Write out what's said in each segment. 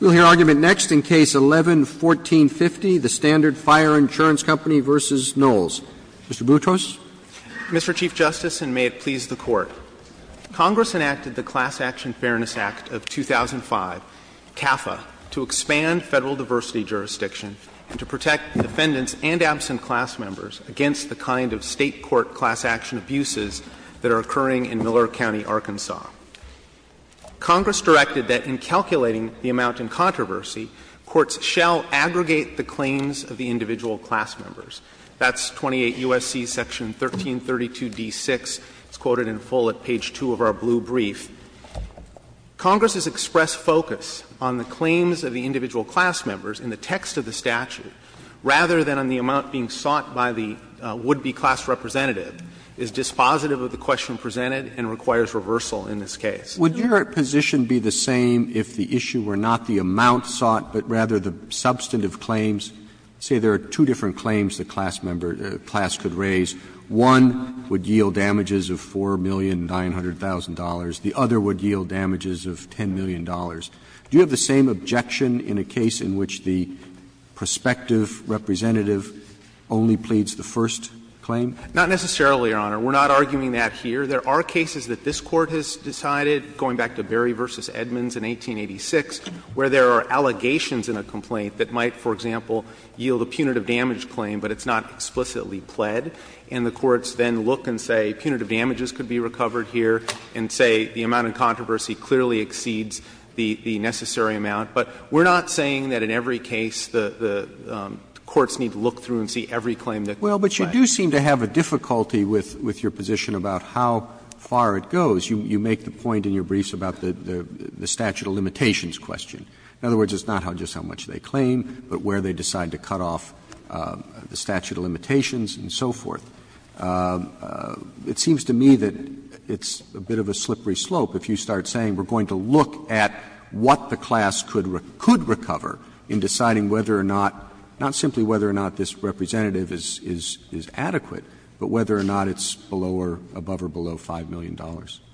We'll hear argument next in Case 11-1450, the Standard Fire Insurance Company v. Knowles. Mr. Boutros. Mr. Chief Justice, and may it please the Court, Congress enacted the Class Action Fairness Act of 2005, CAFA, to expand federal diversity jurisdiction and to protect defendants and absent class members against the kind of state court class action abuses that are occurring in Miller County, Arkansas. Congress directed that in calculating the amount in controversy, courts shall aggregate the claims of the individual class members. That's 28 U.S.C. Section 1332d6. It's quoted in full at page 2 of our blue brief. Congress's expressed focus on the claims of the individual class members in the text of the statute, rather than on the amount being sought by the would-be class representative, is dispositive of the question presented and requires reversal in this case. Roberts Would your position be the same if the issue were not the amount sought, but rather the substantive claims? Say there are two different claims the class member or class could raise. One would yield damages of $4,900,000. The other would yield damages of $10 million. Do you have the same objection in a case in which the prospective representative only pleads the first claim? Shanmugam Not necessarily, Your Honor. We're not arguing that here. There are cases that this Court has decided, going back to Berry v. Edmonds in 1886, where there are allegations in a complaint that might, for example, yield a punitive damage claim, but it's not explicitly pled. And the courts then look and say punitive damages could be recovered here, and say the amount in controversy clearly exceeds the necessary amount. But we're not saying that in every case the courts need to look through and see every claim that could be pled. Well, but you do seem to have a difficulty with your position about how far it goes. You make the point in your briefs about the statute of limitations question. In other words, it's not just how much they claim, but where they decide to cut off the statute of limitations and so forth. It seems to me that it's a bit of a slippery slope if you start saying we're going to look at what the class could recover in deciding whether or not, not simply whether or not this representative is adequate, but whether or not it's below or above or below $5 million.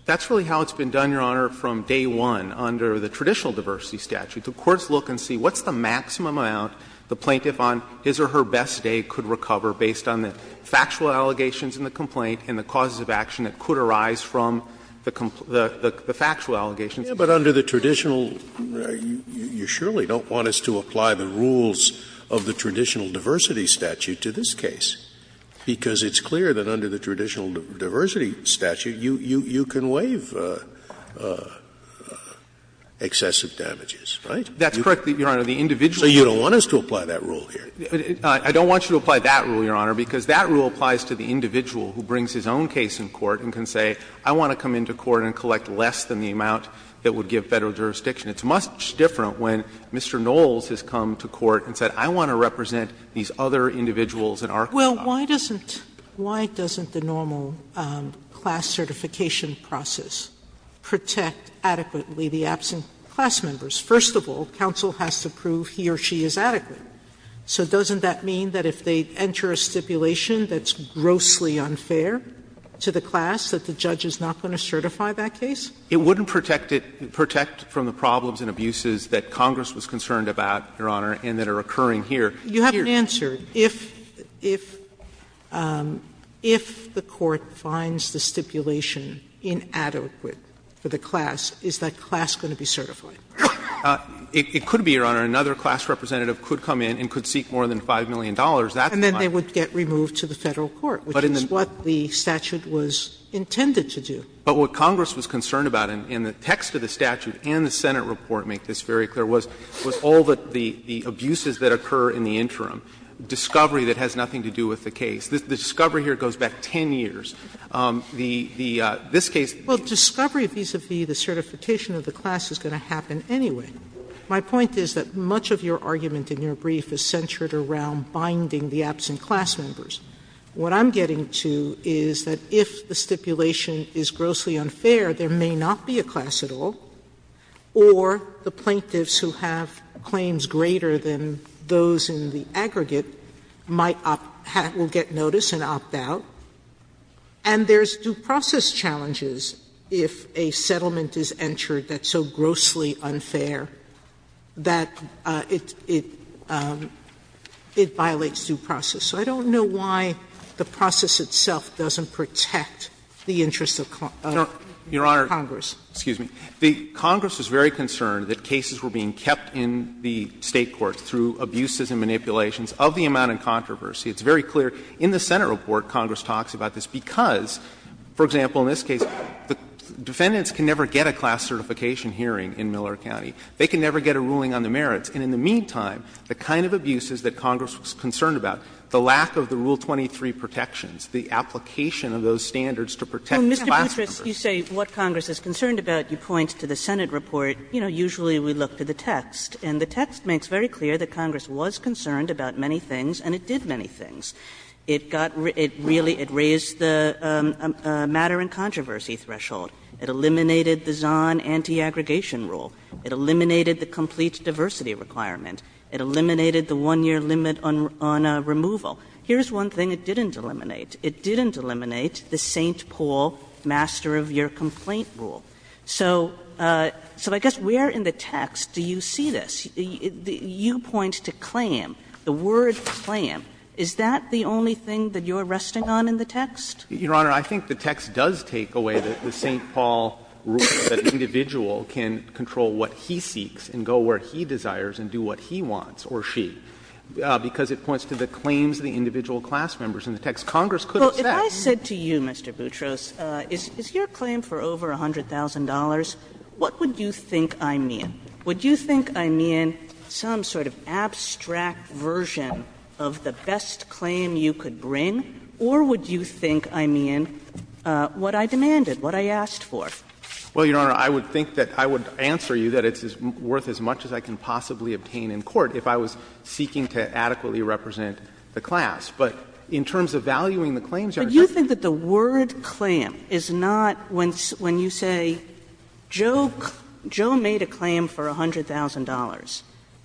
That's really how it's been done, Your Honor, from day one under the traditional diversity statute. The courts look and see what's the maximum amount the plaintiff on his or her best day could recover based on the factual allegations in the complaint and the causes of action that could arise from the factual allegations. Scalia, but under the traditional, you surely don't want us to apply the rules of the traditional diversity statute to this case, because it's clear that under the traditional diversity statute, you can waive excessive damages, right? That's correct, Your Honor. The individual. So you don't want us to apply that rule here? I don't want you to apply that rule, Your Honor, because that rule applies to the individual who brings his own case in court and can say, I want to come into court and collect less than the amount that would give Federal jurisdiction. It's much different when Mr. Knowles has come to court and said, I want to represent these other individuals in our case. Sotomayor, why doesn't the normal class certification process protect adequately the absent class members? First of all, counsel has to prove he or she is adequate. So doesn't that mean that if they enter a stipulation that's grossly unfair to the class, that the judge is not going to certify that case? It wouldn't protect it – protect from the problems and abuses that Congress was concerned about, Your Honor, and that are occurring here. You haven't answered. If the court finds the stipulation inadequate for the class, is that class going to be certified? It could be, Your Honor. Another class representative could come in and could seek more than $5 million. That's fine. And then they would get removed to the Federal court, which is what the statute was intended to do. But what Congress was concerned about, and the text of the statute and the Senate report make this very clear, was all the abuses that occur in the interim. Discovery that has nothing to do with the case. The discovery here goes back 10 years. The – this case – Sotomayor, well, discovery vis-à-vis the certification of the class is going to happen anyway. My point is that much of your argument in your brief is centered around binding the absent class members. What I'm getting to is that if the stipulation is grossly unfair, there may not be a class at all, or the plaintiffs who have claims greater than those in the aggregate might opt – will get notice and opt out. And there's due process challenges if a settlement is entered that's so grossly unfair that it violates due process. So I don't know why the process itself doesn't protect the interests of Congress. Your Honor, excuse me. The Congress was very concerned that cases were being kept in the State court through abuses and manipulations of the amount in controversy. It's very clear in the Senate report Congress talks about this because, for example, in this case, the defendants can never get a class certification hearing in Miller County. They can never get a ruling on the merits. And in the meantime, the kind of abuses that Congress was concerned about, the lack of the Rule 23 protections, the application of those standards to protect class members. Kagan Well, Mr. Boutrous, you say what Congress is concerned about. You point to the Senate report. You know, usually we look to the text, and the text makes very clear that Congress was concerned about many things, and it did many things. It got – it really – it raised the matter in controversy threshold. It eliminated the Zahn anti-aggregation rule. It eliminated the complete diversity requirement. It eliminated the one-year limit on removal. Here's one thing it didn't eliminate. It didn't eliminate the St. Paul master-of-year complaint rule. So I guess where in the text do you see this? You point to clam, the word clam. Is that the only thing that you're resting on in the text? Boutrous Your Honor, I think the text does take away the St. Paul rule that an individual can control what he seeks and go where he desires and do what he wants, or she, because it points to the claims of the individual class members. In the text, Congress could have said that. Kagan Well, if I said to you, Mr. Boutrous, is your claim for over $100,000, what would you think I mean? Would you think I mean some sort of abstract version of the best claim you could bring, or would you think I mean what I demanded, what I asked for? Boutrous Well, Your Honor, I would think that I would answer you that it's worth as much as I can possibly obtain in court if I was seeking to adequately represent the class. But in terms of valuing the claims, Your Honor, I think Kagan But you think that the word clam is not when you say Joe made a claim for $100,000.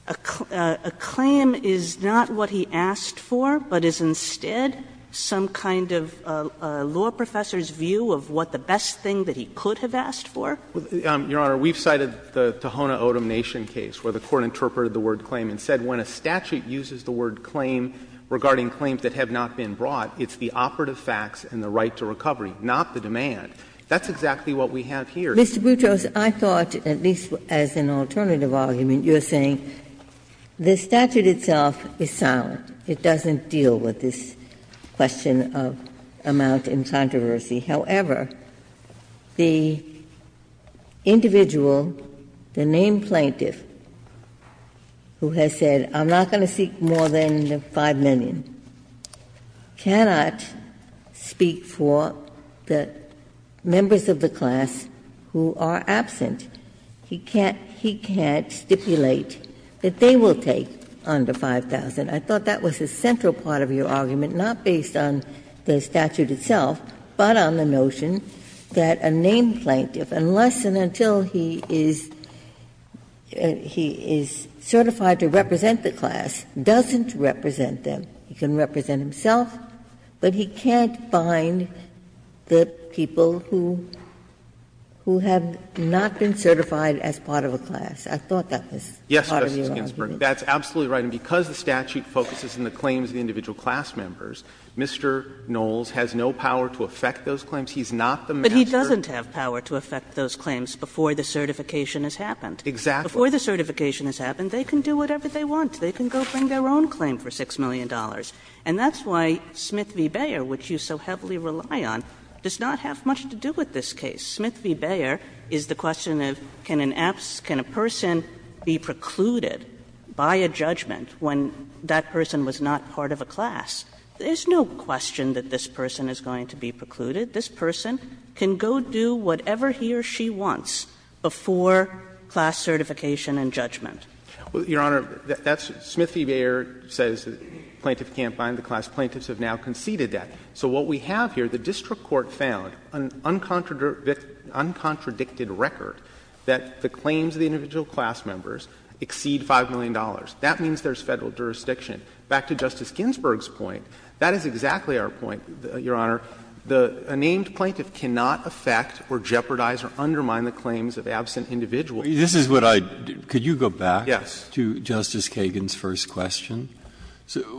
A claim is not what he asked for, but is instead some kind of law professor's view of what the best thing that he could have asked for? Boutrous Your Honor, we've cited the Tohono O'odham Nation case where the Court interpreted the word claim and said when a statute uses the word claim regarding claims that have not been brought, it's the operative facts and the right to recovery, not the demand. That's exactly what we have here. Ginsburg Mr. Boutrous, I thought, at least as an alternative argument, you're saying the statute itself is silent. It doesn't deal with this question of amount and controversy. However, the individual, the named plaintiff, who has said I'm not going to seek more than $5 million, cannot speak for the members of the class who are absent. He can't stipulate that they will take under $5,000. I thought that was a central part of your argument, not based on the statute itself, but on the notion that a named plaintiff, unless and until he is certified to represent the class, doesn't represent them. He can represent himself, but he can't find the people who have not been certified as part of a class. I thought that was part of your argument. Boutrous Yes, Justice Ginsburg, that's absolutely right. And because the statute focuses on the claims of the individual class members, Mr. Knowles has no power to affect those claims. He's not the master. Kagan But he doesn't have power to affect those claims before the certification has happened. Boutrous Exactly. Kagan Before the certification has happened, they can do whatever they want. They can go bring their own claim for $6 million. And that's why Smith v. Bayer, which you so heavily rely on, does not have much to do with this case. Smith v. Bayer is the question of can an absent person be precluded by a judgment when that person was not part of a class? There's no question that this person is going to be precluded. This person can go do whatever he or she wants before class certification and judgment. Boutrous Your Honor, that's — Smith v. Bayer says the plaintiff can't find the class. Plaintiffs have now conceded that. So what we have here, the district court found an uncontradicted record that the claims of the individual class members exceed $5 million. That means there's Federal jurisdiction. Back to Justice Ginsburg's point, that is exactly our point, Your Honor. A named plaintiff cannot affect or jeopardize or undermine the claims of absent individuals. Breyer This is what I — could you go back to Justice Kagan's first question?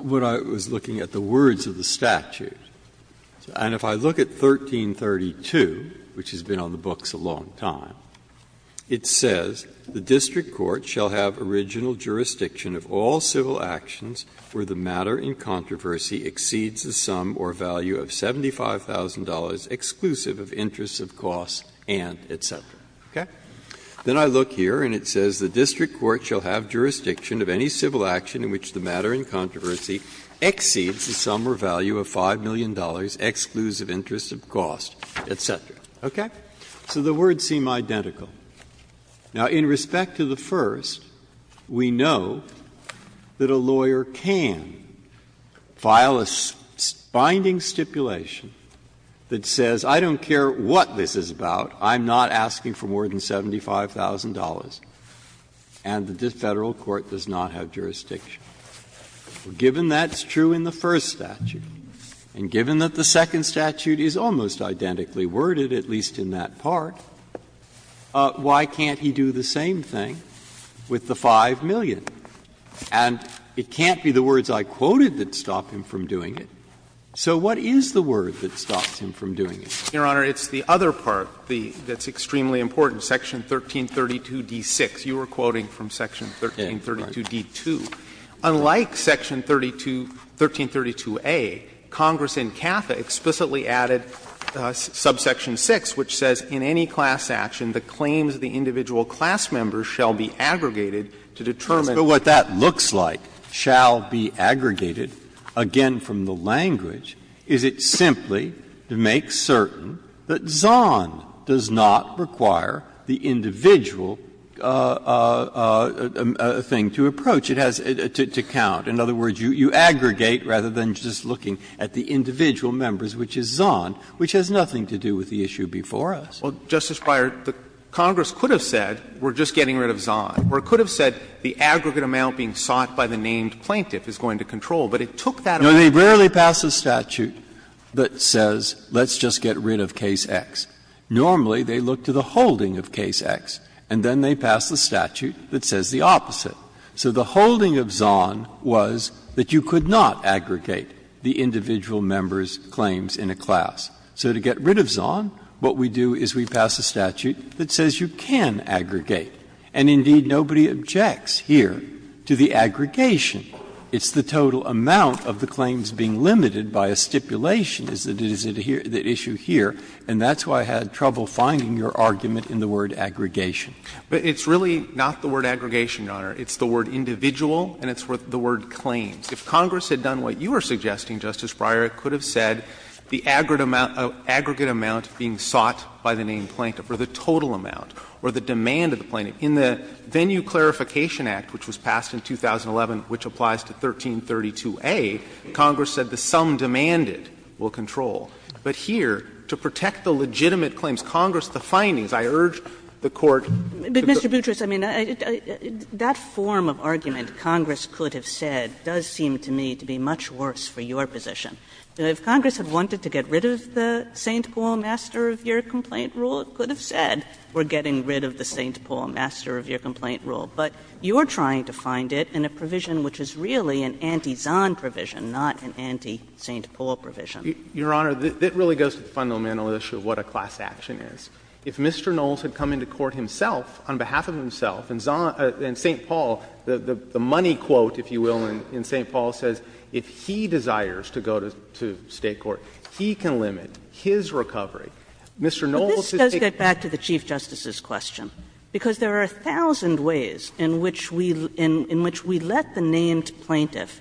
What I was looking at, the words of the statute. And if I look at 1332, which has been on the books a long time, it says, The district court shall have original jurisdiction of all civil actions where the matter in controversy exceeds the sum or value of $75,000, exclusive of interests of cost and et cetera. Okay? Then I look here and it says the district court shall have jurisdiction of any civil action in which the matter in controversy exceeds the sum or value of $5 million, exclusive interests of cost, et cetera. Okay? So the words seem identical. Now, in respect to the first, we know that a lawyer can file a binding stipulation that says, I don't care what this is about, I'm not asking for more than $75,000, and the Federal court does not have jurisdiction. Given that's true in the first statute, and given that the second statute is almost identically worded, at least in that part, why can't he do the same thing with the $5 million? And it can't be the words I quoted that stop him from doing it. So what is the word that stops him from doing it? Shanmugamer, it's the other part that's extremely important, section 1332d6. You were quoting from section 1332d2. Unlike section 1332a, Congress in CAFA explicitly added subsection 6, which says in any class action the claims of the individual class members shall be aggregated to determine. Breyer, but what that looks like, shall be aggregated, again, from the language, is it simply to make certain that Zond does not require the individual thing to approach. It has to count. In other words, you aggregate rather than just looking at the individual members, which is Zond, which has nothing to do with the issue before us. Well, Justice Breyer, Congress could have said we're just getting rid of Zond, or it could have said the aggregate amount being sought by the named plaintiff is going to control. But it took that approach. No, they rarely pass a statute that says let's just get rid of case X. Normally, they look to the holding of case X, and then they pass the statute that says the opposite. So the holding of Zond was that you could not aggregate the individual members' claims in a class. So to get rid of Zond, what we do is we pass a statute that says you can aggregate. And indeed, nobody objects here to the aggregation. It's the total amount of the claims being limited by a stipulation is the issue here, and that's why I had trouble finding your argument in the word aggregation. But it's really not the word aggregation, Your Honor. It's the word individual, and it's the word claims. If Congress had done what you were suggesting, Justice Breyer, it could have said the aggregate amount being sought by the named plaintiff, or the total amount, or the demand of the plaintiff. In the Venue Clarification Act, which was passed in 2011, which applies to 1332a, Congress said the sum demanded will control. But here, to protect the legitimate claims, Congress, the findings, I urge the Court to do the same thing. But Mr. Boutrous, I mean, that form of argument Congress could have said does seem to me to be much worse for your position. If Congress had wanted to get rid of the St. Paul master-of-year complaint rule, it could have said we're getting rid of the St. Paul master-of-year complaint rule. But you're trying to find it in a provision which is really an anti-Zond provision, not an anti-St. Paul provision. Your Honor, that really goes to the fundamental issue of what a class action is. If Mr. Knowles had come into court himself, on behalf of himself, and St. Paul, the money quote, if you will, in St. Paul says if he desires to go to State court, he can limit his recovery. Kagan. Kagan. Kagan. But this does get back to the Chief Justice's question, because there are a thousand ways in which we let the named plaintiff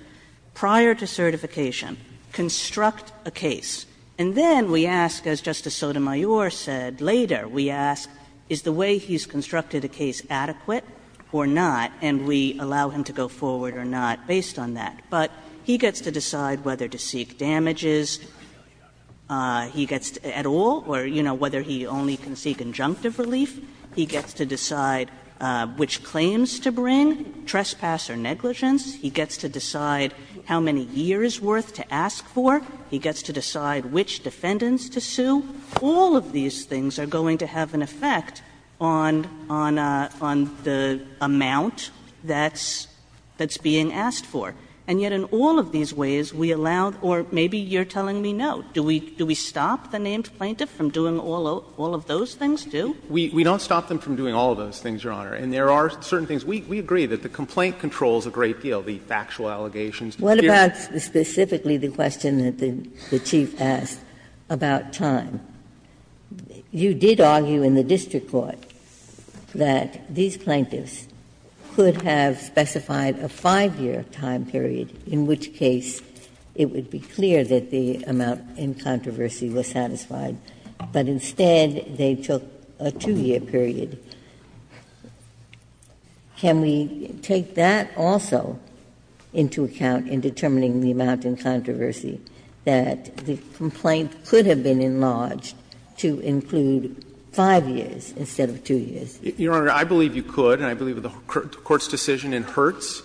prior to certification construct a case, and then we ask, as Justice Sotomayor said later, we ask, is the way he's constructed a case adequate or not, and we allow him to go forward or not based on that. But he gets to decide whether to seek damages, he gets to at all, or, you know, whether he only can seek injunctive relief. He gets to decide which claims to bring, trespass or negligence. He gets to decide how many years' worth to ask for. He gets to decide which defendants to sue. All of these things are going to have an effect on the amount that's being asked for, and yet in all of these ways we allow, or maybe you're telling me no. Do we stop the named plaintiff from doing all of those things, too? We don't stop them from doing all of those things, Your Honor, and there are certain things. We agree that the complaint controls a great deal, the factual allegations. Ginsburg. What about specifically the question that the Chief asked about time? You did argue in the district court that these plaintiffs could have specified a 5-year time period, in which case it would be clear that the amount in controversy was satisfied, but instead they took a 2-year period. Can we take that also into account in determining the amount in controversy, that the complaint could have been enlarged to include 5 years instead of 2 years? Your Honor, I believe you could, and I believe the Court's decision in Hertz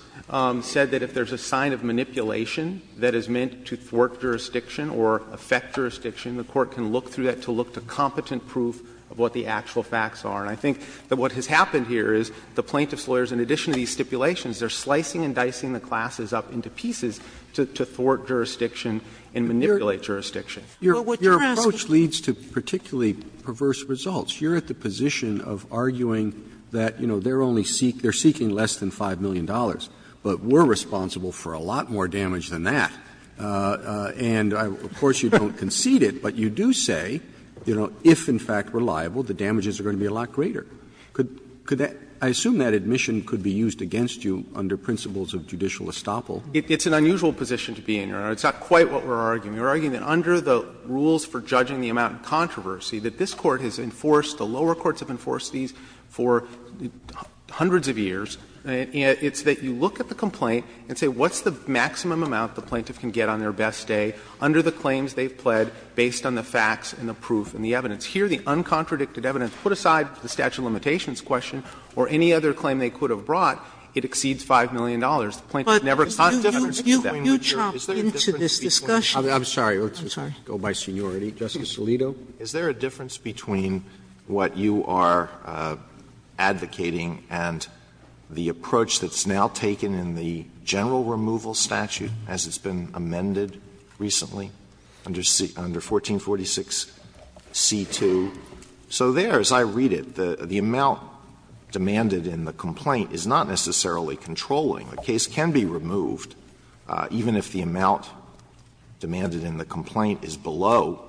said that if there's a sign of manipulation that is meant to thwart jurisdiction or affect jurisdiction, the Court can look through that to look to competent proof of what the actual facts are. And I think that what has happened here is the plaintiff's lawyers, in addition to these stipulations, they're slicing and dicing the classes up into pieces to thwart jurisdiction and manipulate jurisdiction. Roberts, your approach leads to particularly perverse results. You're at the position of arguing that, you know, they're only seeking less than $5 million, but we're responsible for a lot more damage than that. And, of course, you don't concede it, but you do say, you know, if, in fact, reliable, the damages are going to be a lot greater. Could that — I assume that admission could be used against you under principles of judicial estoppel. It's an unusual position to be in, Your Honor. It's not quite what we're arguing. We're arguing that under the rules for judging the amount in controversy, that this Court has enforced, the lower courts have enforced these for hundreds of years. It's that you look at the complaint and say, what's the maximum amount the plaintiff can get on their best day under the claims they've pled based on the facts and the proof and the evidence? Here, the uncontradicted evidence put aside to the statute of limitations question or any other claim they could have brought, it exceeds $5 million. The plaintiff never conceded that. Sotomayor, is there a difference between what you're advocating and the approach that's now taken in the general removal statute, as it's been amended recently, So there, as I read it, the amount demanded in the complaint is not necessarily controlling. The case can be removed, even if the amount demanded in the complaint is below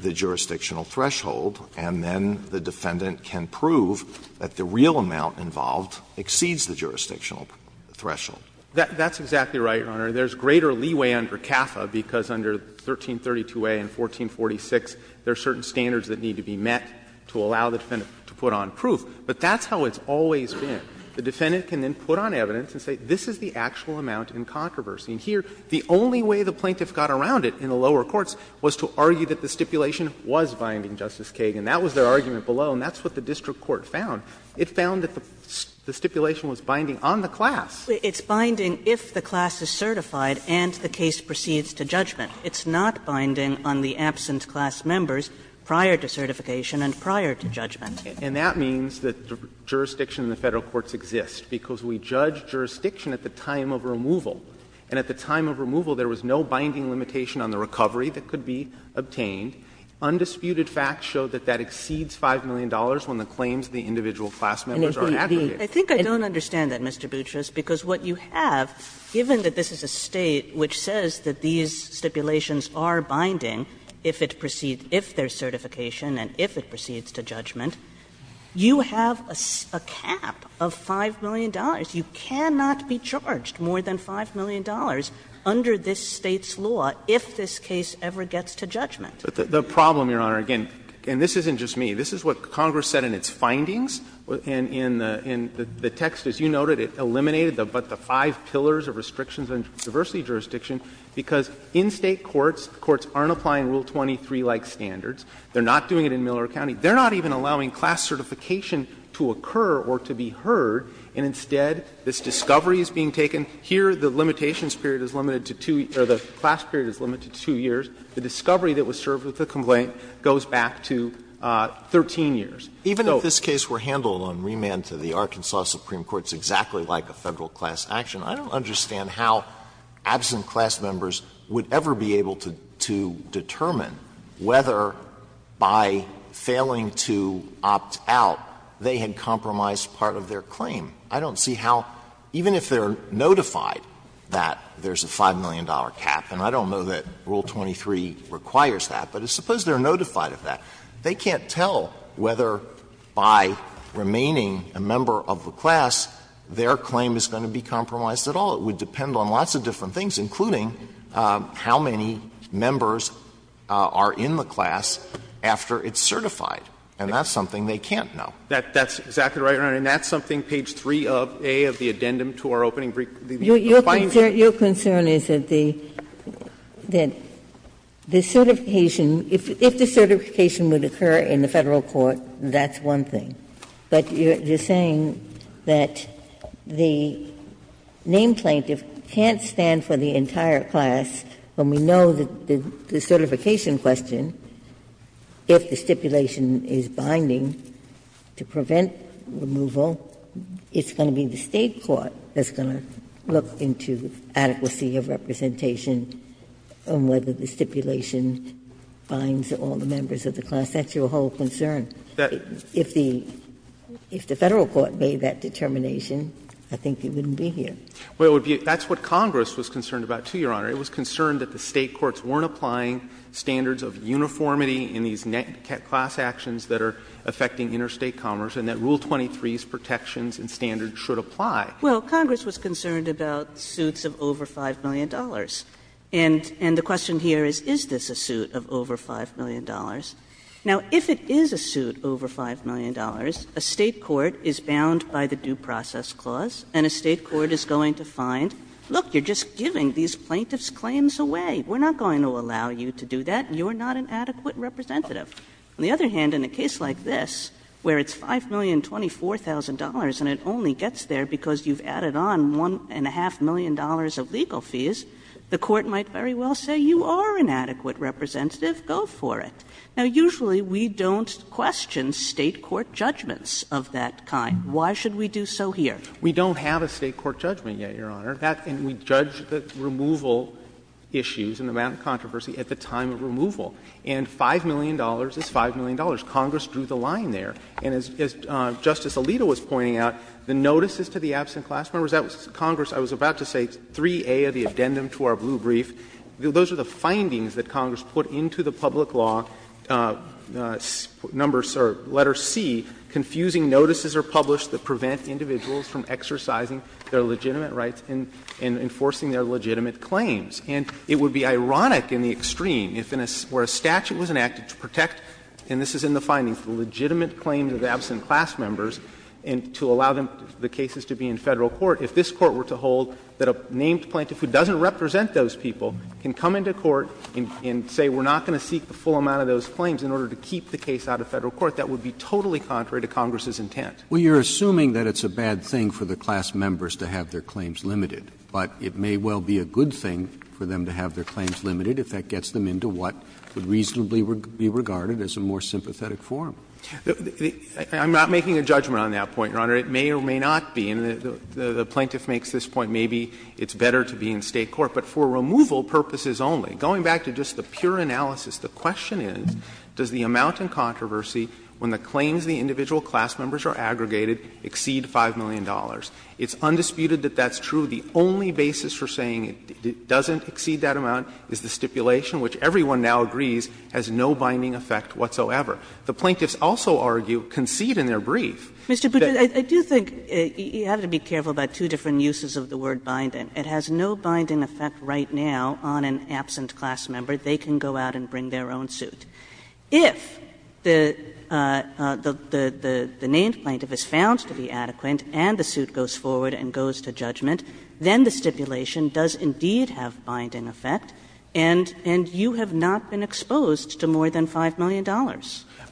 the jurisdictional threshold, and then the defendant can prove that the real amount involved exceeds the jurisdictional threshold. That's exactly right, Your Honor. There's greater leeway under CAFA, because under 1332a and 1446, there are certain standards that need to be met to allow the defendant to put on proof. But that's how it's always been. The defendant can then put on evidence and say, this is the actual amount in controversy. And here, the only way the plaintiff got around it in the lower courts was to argue that the stipulation was binding, Justice Kagan. That was their argument below, and that's what the district court found. It found that the stipulation was binding on the class. Kagan. It's binding if the class is certified and the case proceeds to judgment. It's not binding on the absent class members prior to certification and prior to judgment. And that means that jurisdiction in the Federal courts exists, because we judge jurisdiction at the time of removal. And at the time of removal, there was no binding limitation on the recovery that could be obtained. Undisputed facts show that that exceeds $5 million when the claims of the individual class members are aggregated. I think I don't understand that, Mr. Boutrous, because what you have, given that this is a State which says that these stipulations are binding if it proceeds to, if there's certification and if it proceeds to judgment, you have a cap of $5 million. You cannot be charged more than $5 million under this State's law if this case ever gets to judgment. But the problem, Your Honor, again, and this isn't just me, this is what Congress said in its findings, and in the text, as you noted, it eliminated but the five pillars of restrictions on diversity jurisdiction, because in State courts, courts aren't applying Rule 23-like standards. They're not doing it in Miller County. They're not even allowing class certification to occur or to be heard, and instead this discovery is being taken. Here the limitations period is limited to two or the class period is limited to two years. The discovery that was served with the complaint goes back to 13 years. So. Alito, even if this case were handled on remand to the Arkansas Supreme Court, it's exactly like a Federal class action. I don't understand how absent class members would ever be able to determine whether, by failing to opt out, they had compromised part of their claim. I don't see how, even if they're notified that there's a $5 million cap, and I don't know that Rule 23 requires that, but suppose they're notified of that, they can't tell whether, by remaining a member of the class, their claim is going to be compromised at all. It would depend on lots of different things, including how many members are in the class after it's certified, and that's something they can't know. That's exactly right, Your Honor, and that's something page 3a of the addendum to our opening brief. Your concern is that the certification, if the certification would occur in the Federal court, that's one thing. But you're saying that the name plaintiff can't stand for the entire class when we know that the certification question, if the stipulation is binding to prevent removal, it's going to be the State court that's going to look into adequacy of representation on whether the stipulation binds all the members of the class. That's your whole concern. If the Federal court made that determination, I think it wouldn't be here. Well, that's what Congress was concerned about, too, Your Honor. It was concerned that the State courts weren't applying standards of uniformity in these net class actions that are affecting interstate commerce, and that Rule 23's protections and standards should apply. Well, Congress was concerned about suits of over $5 million. Now, if it is a suit over $5 million, a State court is bound by the due process clause, and a State court is going to find, look, you're just giving these plaintiffs' claims away. We're not going to allow you to do that. You're not an adequate representative. On the other hand, in a case like this, where it's $5,024,000 and it only gets there because you've added on $1.5 million of legal fees, the court might very well say, you are an adequate representative. Go for it. Now, usually we don't question State court judgments of that kind. Why should we do so here? We don't have a State court judgment yet, Your Honor. And we judge the removal issues and the amount of controversy at the time of removal. And $5 million is $5 million. Congress drew the line there. And as Justice Alito was pointing out, the notices to the absent class members, that was Congress, I was about to say, 3A of the addendum to our blue brief. Those are the findings that Congress put into the public law, number or letter C, confusing notices are published that prevent individuals from exercising their legitimate rights and enforcing their legitimate claims. And it would be ironic in the extreme if in a ‑‑ where a statute was enacted to protect, and this is in the findings, the legitimate claims of absent class members, and to allow the cases to be in Federal court, if this Court were to hold that a named plaintiff who doesn't represent those people can come into court and say, we're not going to seek the full amount of those claims in order to keep the case out of Federal court, that would be totally contrary to Congress's intent. Roberts. Well, you're assuming that it's a bad thing for the class members to have their claims limited, but it may well be a good thing for them to have their claims limited if that gets them into what would reasonably be regarded as a more sympathetic forum. I'm not making a judgment on that point, Your Honor. It may or may not be. The plaintiff makes this point, maybe it's better to be in State court, but for removal purposes only. Going back to just the pure analysis, the question is, does the amount in controversy when the claims of the individual class members are aggregated exceed $5 million? It's undisputed that that's true. The only basis for saying it doesn't exceed that amount is the stipulation, which everyone now agrees has no binding effect whatsoever. The plaintiffs also argue, concede in their brief that— Kagan. You have to be careful about two different uses of the word binding. It has no binding effect right now on an absent class member. They can go out and bring their own suit. If the named plaintiff is found to be adequate and the suit goes forward and goes to judgment, then the stipulation does indeed have binding effect and you have not been exposed to more than $5 million.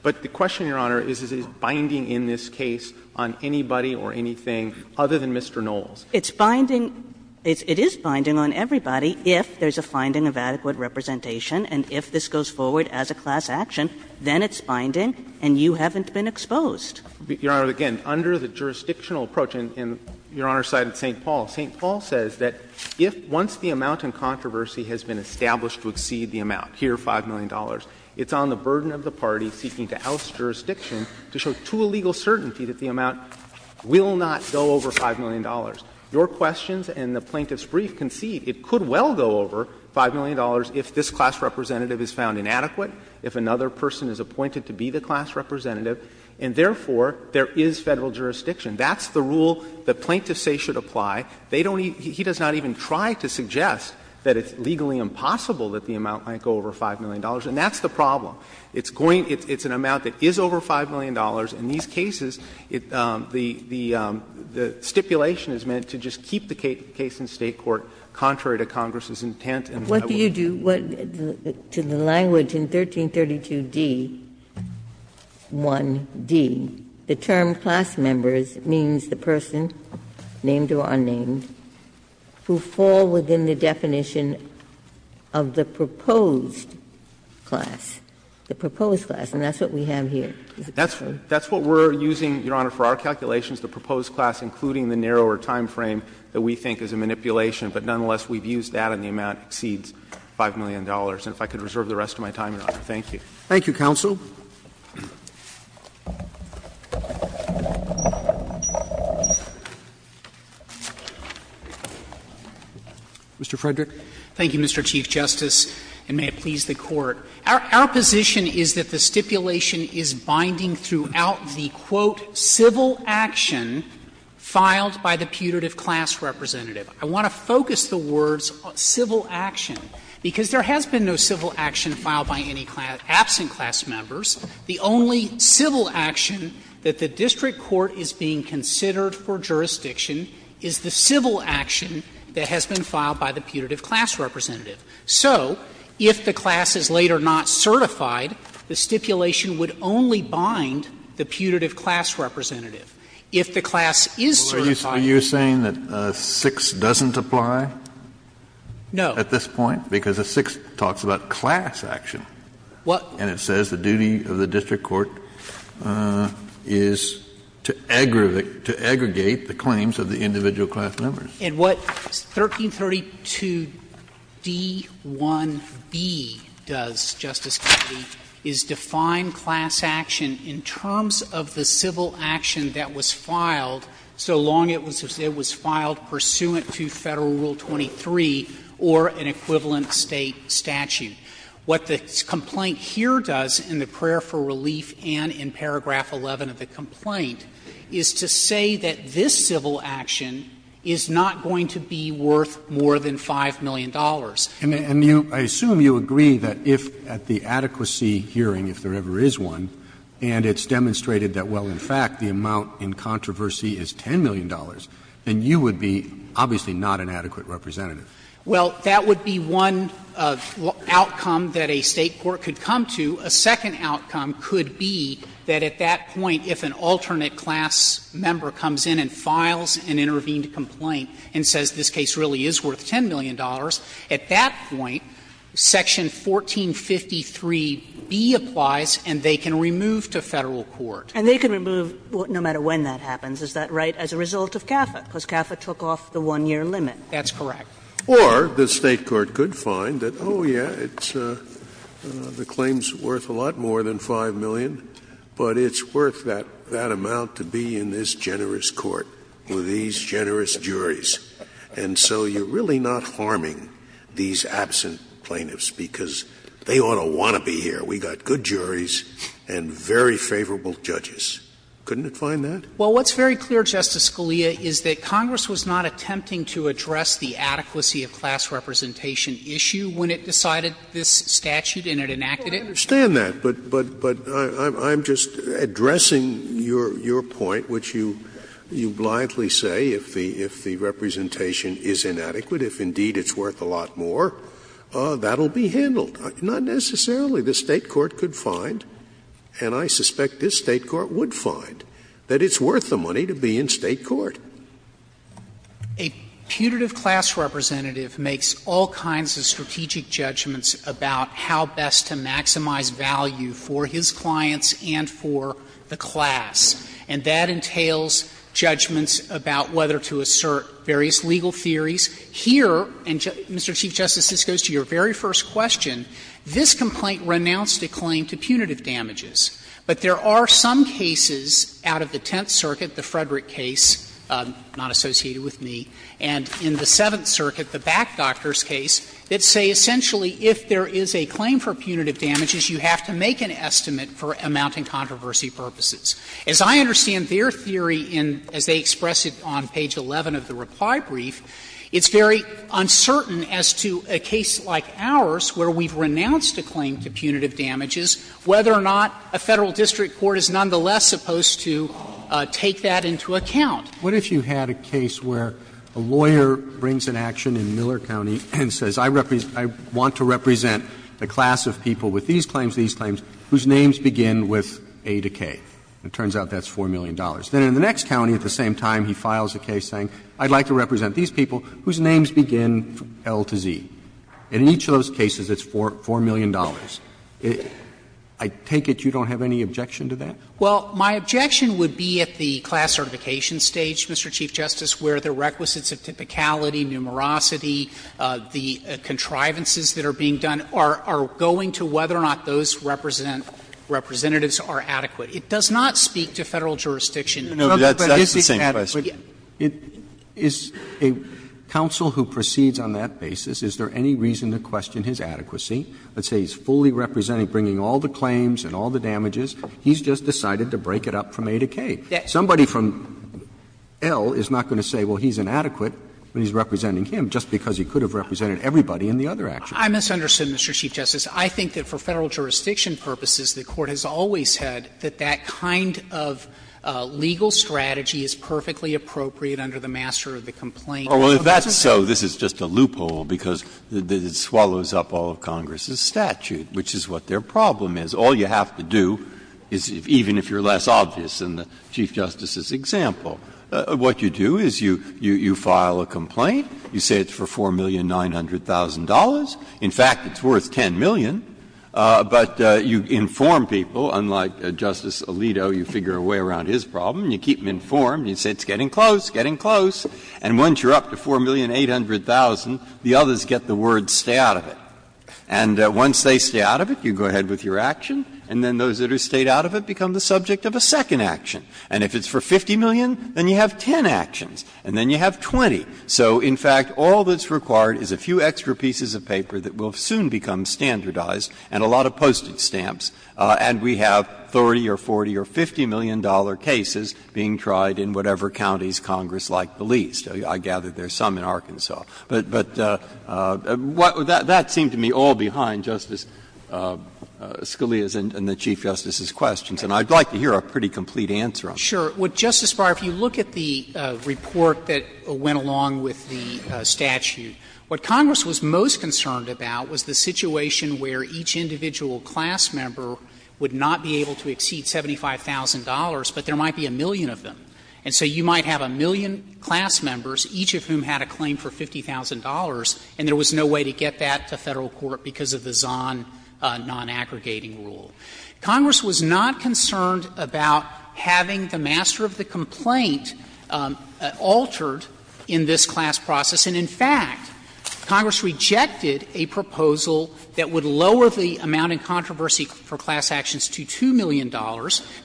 But the question, Your Honor, is, is it binding in this case on anybody or anything other than Mr. Knowles? It's binding — it is binding on everybody if there's a finding of adequate representation and if this goes forward as a class action, then it's binding and you haven't been exposed. Your Honor, again, under the jurisdictional approach, and Your Honor cited St. Paul, St. Paul says that if once the amount in controversy has been established to exceed the amount, here $5 million, it's on the burden of the party seeking to oust jurisdiction to show to a legal certainty that the amount will not go over $5 million. Your questions and the plaintiff's brief concede it could well go over $5 million if this class representative is found inadequate, if another person is appointed to be the class representative, and therefore there is Federal jurisdiction. That's the rule that plaintiffs say should apply. They don't even — he does not even try to suggest that it's legally impossible that the amount might go over $5 million, and that's the problem. It's going — it's an amount that is over $5 million. In these cases, it — the stipulation is meant to just keep the case in State court contrary to Congress's intent, and I will not do that. Ginsburg. What do you do to the language in 1332d-1d, the term class members means the person named or unnamed, who fall within the definition of the proposed class, the proposed class, and that's what we have here? That's what we're using, Your Honor, for our calculations, the proposed class, including the narrower time frame that we think is a manipulation, but nonetheless, we've used that and the amount exceeds $5 million. And if I could reserve the rest of my time, Your Honor, thank you. Roberts Thank you, counsel. Mr. Frederick. Frederick, thank you, Mr. Chief Justice, and may it please the Court. Our position is that the stipulation is binding throughout the, quote, ''civil action'' filed by the putative class representative. I want to focus the words on civil action, because there has been no civil action filed by any absent class members. The only civil action that the district court is being considered for jurisdiction is the civil action that has been filed by the putative class representative. So if the class is later not certified, the stipulation would only bind the putative class representative. If the class is certified. Kennedy Are you saying that 6 doesn't apply? Frederick No. Kennedy At this point, because a 6 talks about class action. And it says the duty of the district court is to aggregate the claims of the individual class members. Frederick And what 1332d1b does, Justice Kennedy, is define class action in terms of the civil action that was filed so long it was filed pursuant to Federal Rule 23 or an equivalent State statute. What the complaint here does in the prayer for relief and in paragraph 11 of the complaint is to say that this civil action is not going to be worth more than $5 million. Roberts And you, I assume you agree that if at the adequacy hearing, if there ever is one, and it's demonstrated that, well, in fact, the amount in controversy is $10 million, then you would be obviously not an adequate representative. Frederick Well, that would be one outcome that a State court could come to. A second outcome could be that at that point, if an alternate class member comes in and files an intervened complaint and says this case really is worth $10 million, at that point, section 1453b applies and they can remove to Federal court. Kagan And they can remove no matter when that happens, is that right, as a result of CAFA, because CAFA took off the 1-year limit? Frederick That's correct. Scalia Or the State court could find that, oh, yeah, the claim is worth a lot more than $5 million, but it's worth that amount to be in this generous court with these generous juries. And so you're really not harming these absent plaintiffs, because they ought to want to be here. We've got good juries and very favorable judges. Couldn't it find that? Frederick Well, what's very clear, Justice Scalia, is that Congress was not attempting to address the adequacy of class representation issue when it decided this statute and it enacted it. Scalia I understand that, but I'm just addressing your point, which you blindly say if the representation is inadequate, if indeed it's worth a lot more, that will be handled. Not necessarily. The State court could find, and I suspect this State court would find, that it's worth the money to be in State court. Frederick A putative class representative makes all kinds of strategic judgments about how best to maximize value for his clients and for the class. And that entails judgments about whether to assert various legal theories. Here, and, Mr. Chief Justice, this goes to your very first question, this complaint renounced a claim to punitive damages. But there are some cases out of the Tenth Circuit, the Frederick case, not associated with me, and in the Seventh Circuit, the Back Doctor's case, that say essentially if there is a claim for punitive damages, you have to make an estimate for amounting controversy purposes. As I understand their theory in, as they express it on page 11 of the reply brief, it's very uncertain as to a case like ours, where we've renounced a claim to punitive damages, whether or not a Federal district court is nonetheless supposed to take that into account. Roberts. What if you had a case where a lawyer brings an action in Miller County and says, I represent, I want to represent a class of people with these claims, these claims, whose names begin with A to K? It turns out that's $4 million. Then in the next county, at the same time, he files a case saying, I'd like to represent these people whose names begin from L to Z. And in each of those cases, it's $4 million. I take it you don't have any objection to that? Well, my objection would be at the class certification stage, Mr. Chief Justice, where the requisites of typicality, numerosity, the contrivances that are being done are going to whether or not those representatives are adequate. It does not speak to Federal jurisdiction. No, that's the same question. But is a counsel who proceeds on that basis, is there any reason to question his adequacy? Let's say he's fully representing, bringing all the claims and all the damages. He's just decided to break it up from A to K. Somebody from L is not going to say, well, he's inadequate, but he's representing him, just because he could have represented everybody in the other action. I misunderstood, Mr. Chief Justice. I think that for Federal jurisdiction purposes, the Court has always said that that kind of legal strategy is perfectly appropriate under the master of the complaint process. Well, if that's so, this is just a loophole, because it swallows up all of Congress's statute, which is what their problem is. All you have to do is, even if you're less obvious than the Chief Justice's example, what you do is you file a complaint. You say it's for $4,900,000. In fact, it's worth $10 million. But you inform people, unlike Justice Alito, you figure a way around his problem. You keep them informed. You say it's getting close, getting close. And once you're up to $4,800,000, the others get the word, stay out of it. And once they stay out of it, you go ahead with your action, and then those that have stayed out of it become the subject of a second action. And if it's for $50 million, then you have 10 actions, and then you have 20. So, in fact, all that's required is a few extra pieces of paper that will soon become standardized and a lot of postage stamps, and we have 30 or 40 or $50 million cases being tried in whatever counties Congress liked the least. I gather there's some in Arkansas. But that seemed to me all behind Justice Scalia's and the Chief Justice's questions, and I'd like to hear a pretty complete answer on that. Sotomayor, if you look at the report that went along with the statute, what Congress was most concerned about was the situation where each individual class member would not be able to exceed $75,000, but there might be a million of them. And so you might have a million class members, each of whom had a claim for $50,000, and there was no way to get that to Federal court because of the Zahn non-aggregating rule. Congress was not concerned about having the master of the complaint altered in this class process. And in fact, Congress rejected a proposal that would lower the amount in controversy for class actions to $2 million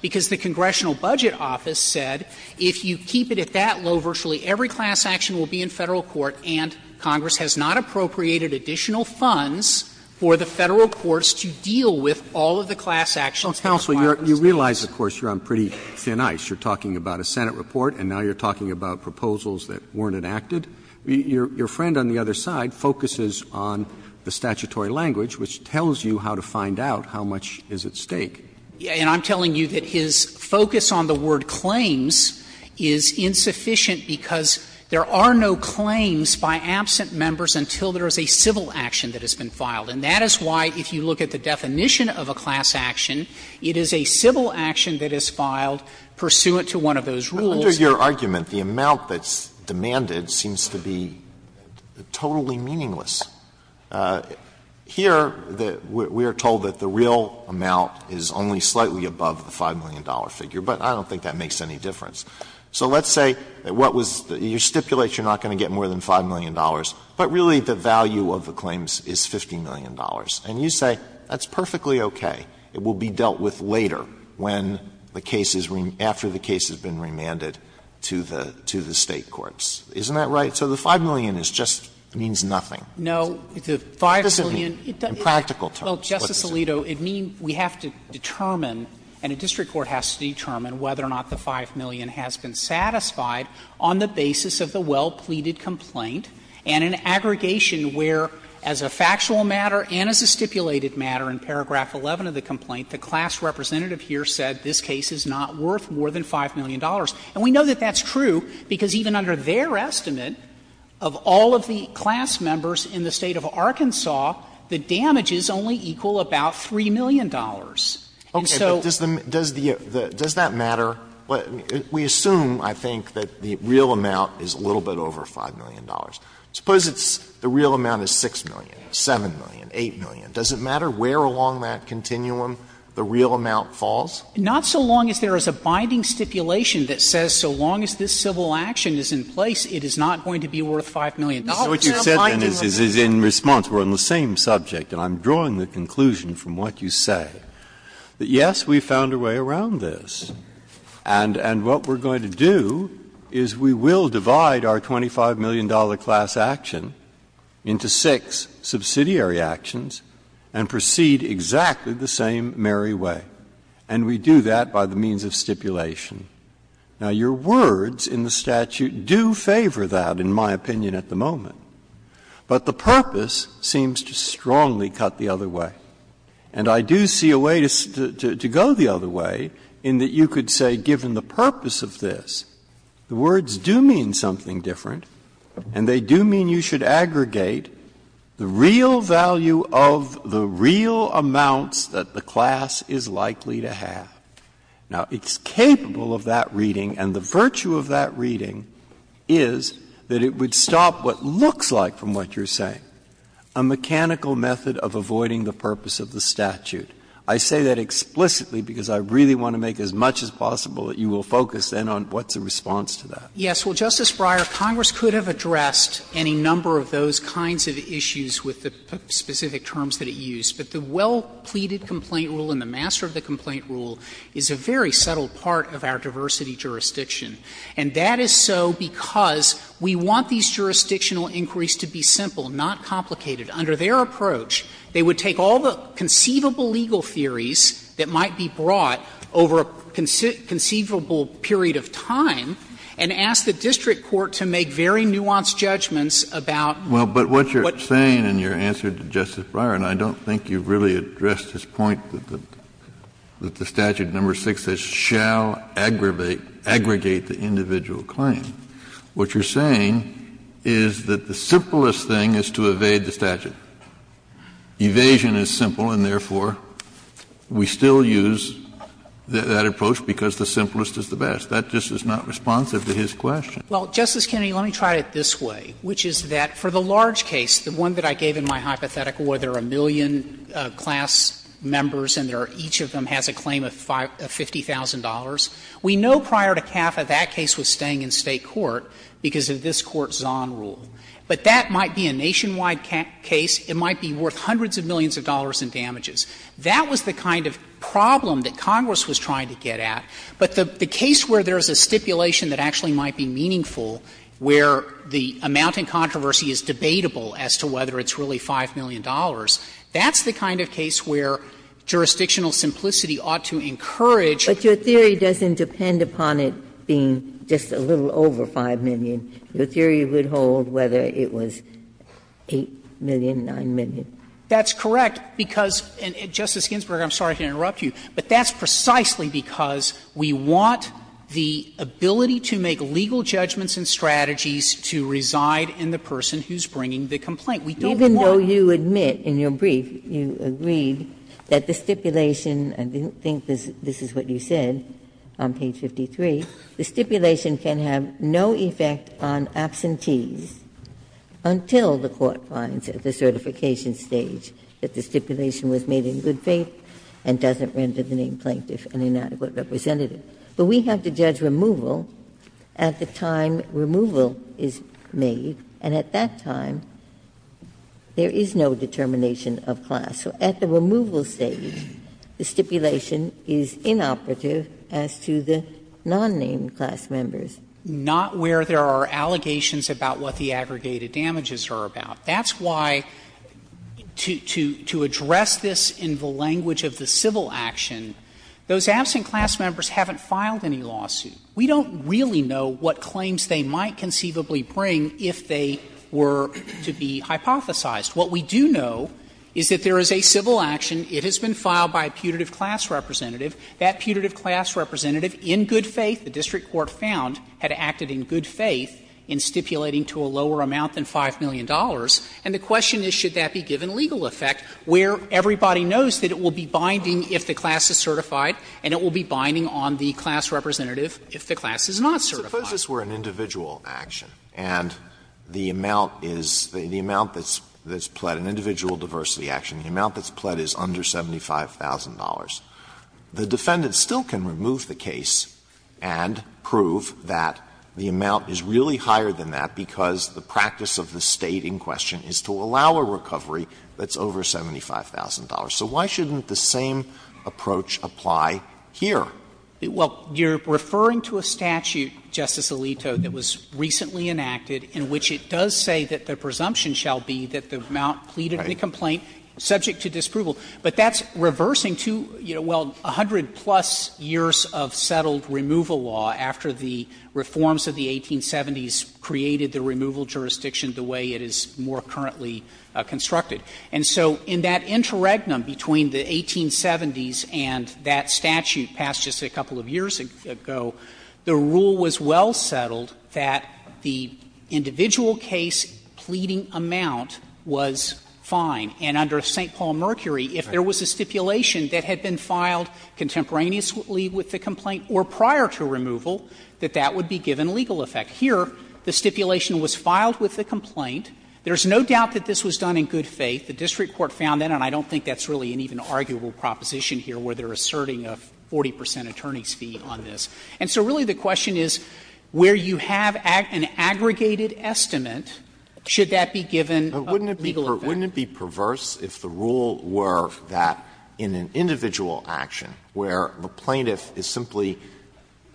because the Congressional Budget Office said if you keep it at that low, virtually every class action will be in Federal court, and Congress has not appropriated additional funds for the Federal courts to deal with all of the class actions. Roberts. Roberts. You realize, of course, you're on pretty thin ice. You're talking about a Senate report, and now you're talking about proposals that weren't enacted. Your friend on the other side focuses on the statutory language, which tells you how to find out how much is at stake. And I'm telling you that his focus on the word claims is insufficient because there are no claims by absent members until there is a civil action that has been filed. And that is why, if you look at the definition of a class action, it is a civil action that is filed pursuant to one of those rules. Alito, under your argument, the amount that's demanded seems to be totally meaningless. Here, we are told that the real amount is only slightly above the $5 million figure, but I don't think that makes any difference. So let's say what was the – you stipulate you're not going to get more than $5 million, but really the value of the claims is $50 million. And you say that's perfectly okay. It will be dealt with later when the case is – after the case has been remanded to the State courts. Isn't that right? So the $5 million is just – means nothing. No, the $5 million doesn't mean in practical terms. Well, Justice Alito, it means we have to determine, and a district court has to determine whether or not the $5 million has been satisfied on the basis of the well-pleaded complaint and an aggregation where, as a factual matter and as a stipulated matter in paragraph 11 of the complaint, the class representative here said this case is not worth more than $5 million. And we know that that's true because even under their estimate of all of the class members in the State of Arkansas, the damages only equal about $3 million. And so the real amount is a little bit over $5 million. Suppose the real amount is $6 million, $7 million, $8 million. Does it matter where along that continuum the real amount falls? Not so long as there is a binding stipulation that says so long as this civil action is in place, it is not going to be worth $5 million. Now, I'm not binding on that. Breyer, this is in response. We're on the same subject, and I'm drawing the conclusion from what you say, that, yes, we found a way around this. And what we're going to do is we will divide our $25 million class action into 6 subsidiary actions and proceed exactly the same merry way. And we do that by the means of stipulation. Now, your words in the statute do favor that, in my opinion, at the moment. But the purpose seems to strongly cut the other way. And I do see a way to go the other way in that you could say, given the purpose of this, the words do mean something different, and they do mean you should aggregate the real value of the real amounts that the class is likely to have. Now, it's capable of that reading, and the virtue of that reading is that it would stop what looks like, from what you're saying, a mechanical method of avoiding the purpose of the statute. I say that explicitly because I really want to make as much as possible that you will focus then on what's the response to that. Yes. Well, Justice Breyer, Congress could have addressed any number of those kinds of issues with the specific terms that it used. But the well-pleaded complaint rule and the master of the complaint rule is a very subtle part of our diversity jurisdiction. And that is so because we want these jurisdictional inquiries to be simple, not complicated. Under their approach, they would take all the conceivable legal theories that might be brought over a conceivable period of time, and ask the district court to make very nuanced judgments about what you're saying. Well, but what you're saying in your answer to Justice Breyer, and I don't think you've really addressed his point that the statute, number 6, says shall aggregate the individual claim, what you're saying is that the simplest thing is to evade the statute. Evasion is simple, and therefore, we still use that approach because the simplest is the best. That just is not responsive to his question. Well, Justice Kennedy, let me try it this way, which is that for the large case, the one that I gave in my hypothetical where there are a million class members and each of them has a claim of $50,000, we know prior to CAFA that case was staying in State court because of this Court's Zahn rule. But that might be a nationwide case. It might be worth hundreds of millions of dollars in damages. That was the kind of problem that Congress was trying to get at. But the case where there's a stipulation that actually might be meaningful, where the amount in controversy is debatable as to whether it's really $5 million, that's the kind of case where jurisdictional simplicity ought to encourage. Ginsburg. But your theory doesn't depend upon it being just a little over $5 million. Your theory would hold whether it was $8 million, $9 million. That's correct, because, Justice Ginsburg, I'm sorry to interrupt you, but that's precisely because we want the ability to make legal judgments and strategies to reside in the person who's bringing the complaint. We don't want. Even though you admit in your brief, you agreed, that the stipulation, I think this is what you said on page 53, the stipulation can have no effect on absentees until the Court finds at the certification stage that the stipulation was made in good faith and doesn't render the name plaintiff an inadequate representative. But we have to judge removal at the time removal is made, and at that time there is no determination of class. So at the removal stage, the stipulation is inoperative as to the non-named class members. Not where there are allegations about what the aggregated damages are about. That's why, to address this in the language of the civil action, those absent class members haven't filed any lawsuit. We don't really know what claims they might conceivably bring if they were to be hypothesized. What we do know is that there is a civil action. It has been filed by a putative class representative. That putative class representative, in good faith, the district court found, had acted in good faith in stipulating to a lower amount than $5 million. And the question is, should that be given legal effect, where everybody knows that it will be binding if the class is certified and it will be binding on the class representative if the class is not certified. Alito, suppose this were an individual action and the amount is, the amount that's pled, an individual diversity action, the amount that's pled is under $75,000. The defendant still can remove the case and prove that the amount is really higher than that because the practice of the State in question is to allow a recovery that's over $75,000. So why shouldn't the same approach apply here? Well, you're referring to a statute, Justice Alito, that was recently enacted in which it does say that the presumption shall be that the amount pleaded in the complaint subject to disproval. But that's reversing two, well, 100-plus years of settled removal law after the reforms of the 1870s created the removal jurisdiction the way it is more currently constructed. And so in that interregnum between the 1870s and that statute passed just a couple of years ago, the rule was well settled that the individual case pleading amount was fine. And under St. Paul Mercury, if there was a stipulation that had been filed contemporaneously with the complaint or prior to removal, that that would be given legal effect. Here, the stipulation was filed with the complaint. There's no doubt that this was done in good faith. The district court found that, and I don't think that's really an even arguable proposition here where they're asserting a 40 percent attorney's fee on this. And so really the question is, where you have an aggregated estimate, should that be given legal effect? Alito, wouldn't it be perverse if the rule were that in an individual action where the plaintiff is simply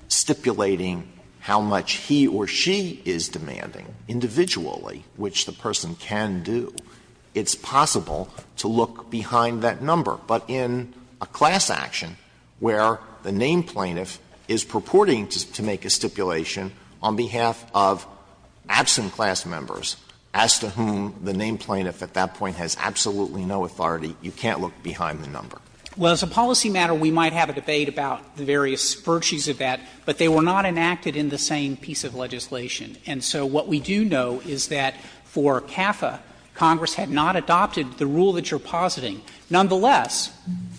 stipulating how much he or she is demanding individually which the person can do, it's possible to look behind that number? But in a class action where the named plaintiff is purporting to make a stipulation on behalf of absent class members as to whom the named plaintiff at that point has absolutely no authority, you can't look behind the number. Well, as a policy matter, we might have a debate about the various virtues of that, but they were not enacted in the same piece of legislation. And so what we do know is that for CAFA, Congress had not adopted the rule that you're positing. Nonetheless,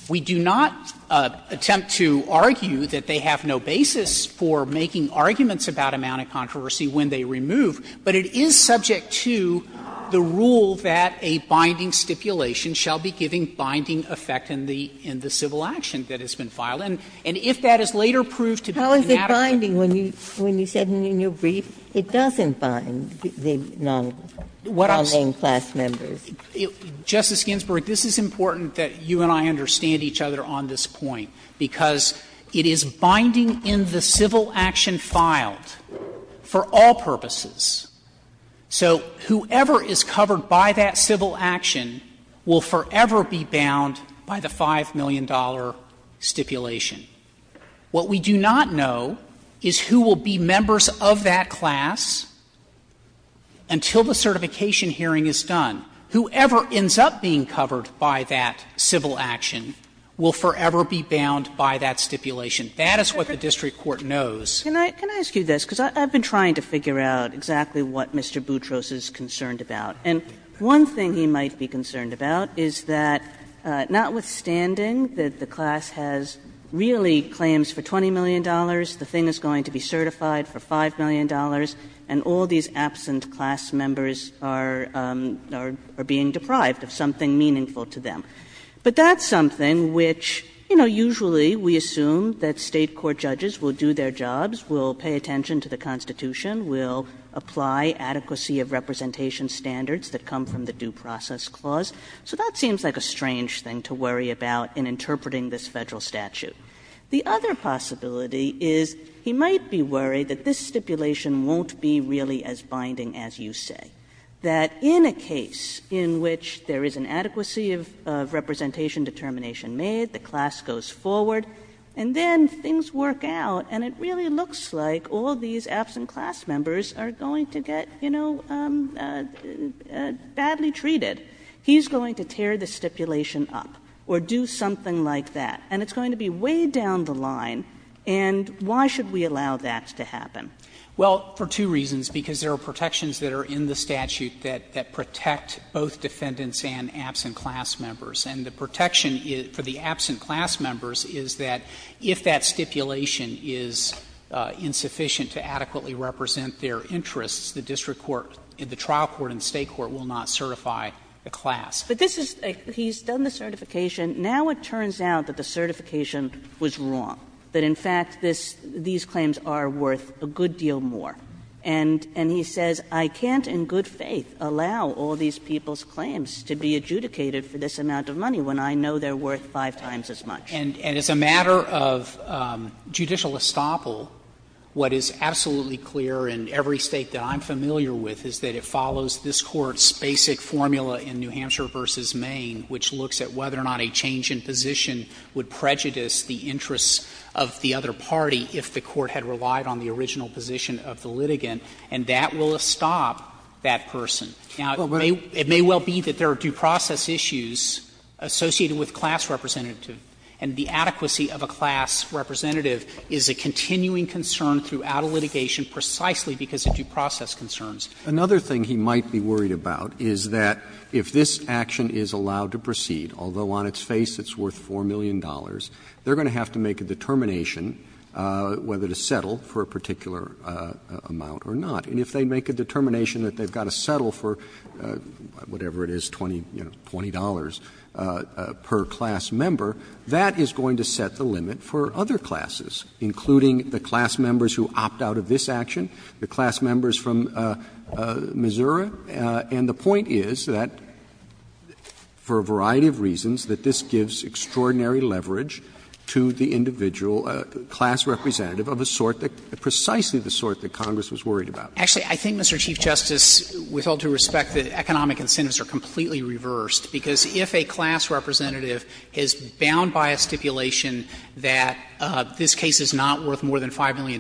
we do not attempt to argue that they have no basis for making arguments about amount of controversy when they remove, but it is subject to the rule that a binding stipulation shall be giving binding effect in the civil action that has been filed. And if that is later proved to be inadequate. Ginsburg. When you said in your brief, it doesn't bind the non-named class members. Justice Ginsburg, this is important that you and I understand each other on this point, because it is binding in the civil action filed for all purposes. So whoever is covered by that civil action will forever be bound by the $5 million stipulation. What we do not know is who will be members of that class until the certification hearing is done. Whoever ends up being covered by that civil action will forever be bound by that stipulation. That is what the district court knows. Kagan. Kagan. Can I ask you this? Because I've been trying to figure out exactly what Mr. Boutros is concerned about. And one thing he might be concerned about is that, notwithstanding that the class has really claims for $20 million, the thing is going to be certified for $5 million, and all these absent class members are being deprived of something meaningful to them. But that's something which, you know, usually we assume that State court judges will do their jobs, will pay attention to the Constitution, will apply adequacy of representation standards that come from the Due Process Clause. So that seems like a strange thing to worry about in interpreting this Federal statute. The other possibility is he might be worried that this stipulation won't be really as binding as you say. That in a case in which there is an adequacy of representation determination made, the class goes forward, and then things work out, and it really looks like all these absent class members are going to get, you know, badly treated. He's going to tear the stipulation up or do something like that. And it's going to be way down the line, and why should we allow that to happen? Well, for two reasons, because there are protections that are in the statute that protect both defendants and absent class members. And the protection for the absent class members is that if that stipulation is insufficient to adequately represent their interests, the district court, the trial court, and the State court will not certify the class. But this is a – he's done the certification. Now it turns out that the certification was wrong, that in fact this – these claims are worth a good deal more. And he says, I can't in good faith allow all these people's claims to be adjudicated for this amount of money when I know they're worth five times as much. And as a matter of judicial estoppel, what is absolutely clear in every State that I'm familiar with is that it follows this Court's basic formula in New Hampshire v. Maine, which looks at whether or not a change in position would prejudice the interests of the other party if the Court had relied on the original position of the litigant, and that will stop that person. Now, it may well be that there are due process issues associated with class representative, and the adequacy of a class representative is a continuing concern throughout a litigation precisely because of due process concerns. Roberts. Another thing he might be worried about is that if this action is allowed to proceed, although on its face it's worth $4 million, they're going to have to make a determination whether to settle for a particular amount or not. And if they make a determination that they've got to settle for whatever it is, $20 per class member, that is going to set the limit for other classes, including the class members who opt out of this action, the class members from Missouri. And the point is that, for a variety of reasons, that this gives extraordinary leverage to the individual class representative of a sort that — precisely the sort that Congress was worried about. Actually, I think, Mr. Chief Justice, with all due respect, that economic incentives are completely reversed, because if a class representative is bound by a stipulation that this case is not worth more than $5 million,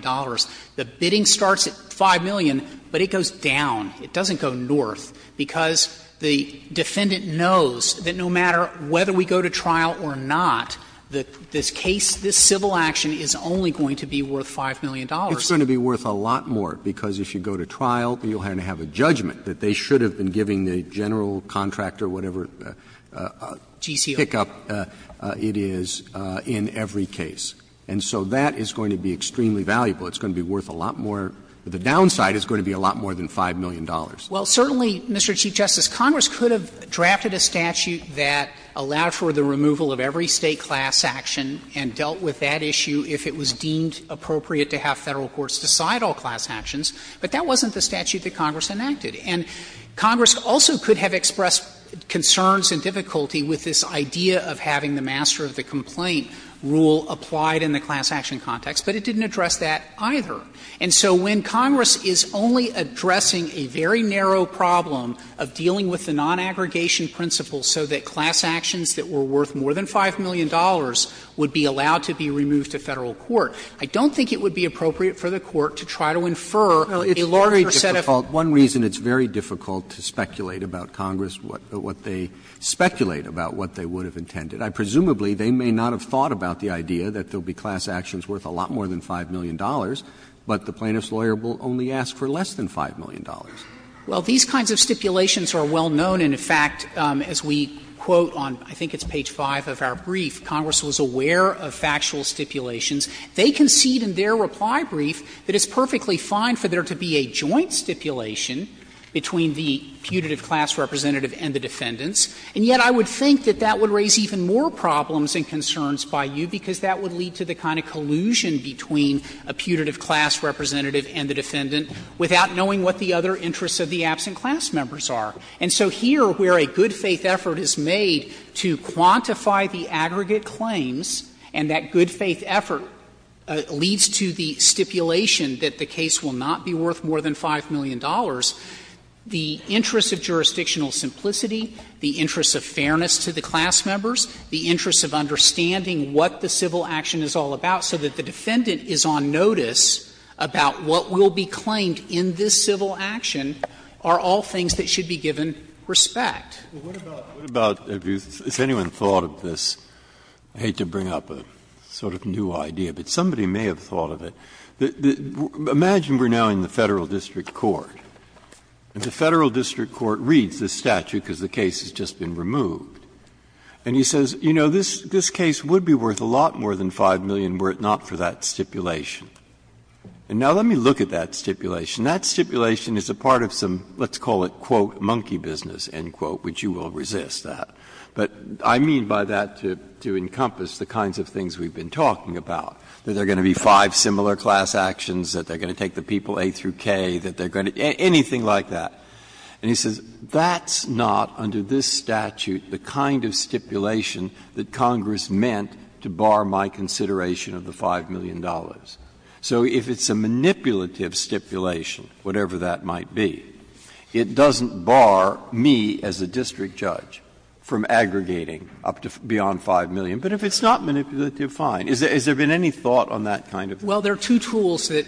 the bidding starts at $5 million, but it goes down. It doesn't go north, because the defendant knows that no matter whether we go to trial or not, that this case, this civil action is only going to be worth $5 million. It's going to be worth a lot more, because if you go to trial, you're going to have a judgment that they should have been giving the general contractor whatever pickup it is. And so that is going to be extremely valuable. It's going to be worth a lot more. The downside is going to be a lot more than $5 million. Well, certainly, Mr. Chief Justice, Congress could have drafted a statute that allowed for the removal of every State class action and dealt with that issue if it was deemed appropriate to have Federal courts decide all class actions, but that wasn't the statute that Congress enacted. And Congress also could have expressed concerns and difficulty with this idea of having the master of the complaint rule applied in the class action context, but it didn't address that either. And so when Congress is only addressing a very narrow problem of dealing with the non-aggregation principles so that class actions that were worth more than $5 million would be allowed to be removed to Federal court, I don't think it would be appropriate for the Court to try to infer a larger set of. Roberts, One reason it's very difficult to speculate about Congress, what they speculate about what they would have intended. Presumably, they may not have thought about the idea that there will be class actions worth a lot more than $5 million, but the plaintiff's lawyer will only ask for less than $5 million. Well, these kinds of stipulations are well known, and, in fact, as we quote on, I think it's page 5 of our brief, Congress was aware of factual stipulations. They concede in their reply brief that it's perfectly fine for there to be a joint stipulation between the putative class representative and the defendants, and yet I would think that that would raise even more problems and concerns by you, because that would lead to the kind of collusion between a putative class representative and the defendant without knowing what the other interests of the absent class members are. And so here, where a good-faith effort is made to quantify the aggregate claims and that good-faith effort leads to the stipulation that the case will not be worth more than $5 million, the interest of jurisdictional simplicity, the interest of fairness to the class members, the interest of understanding what the civil action is all about so that the defendant is on notice about what will be claimed in this civil action are all things that should be given respect. Breyer. What about if anyone thought of this? I hate to bring up a sort of new idea, but somebody may have thought of it. Imagine we are now in the Federal District Court, and the Federal District Court reads this statute because the case has just been removed, and he says, you know, this case would be worth a lot more than $5 million were it not for that stipulation. And now let me look at that stipulation. That stipulation is a part of some, let's call it, quote, monkey business, end quote, which you will resist that. But I mean by that to encompass the kinds of things we have been talking about, that there are going to be five similar class actions, that they are going to take the people A through K, that they are going to do anything like that. And he says that's not under this statute the kind of stipulation that Congress meant to bar my consideration of the $5 million. So if it's a manipulative stipulation, whatever that might be, it doesn't bar me as a district judge from aggregating up to beyond $5 million. But if it's not manipulative, fine. Has there been any thought on that kind of thing? Well, there are two tools that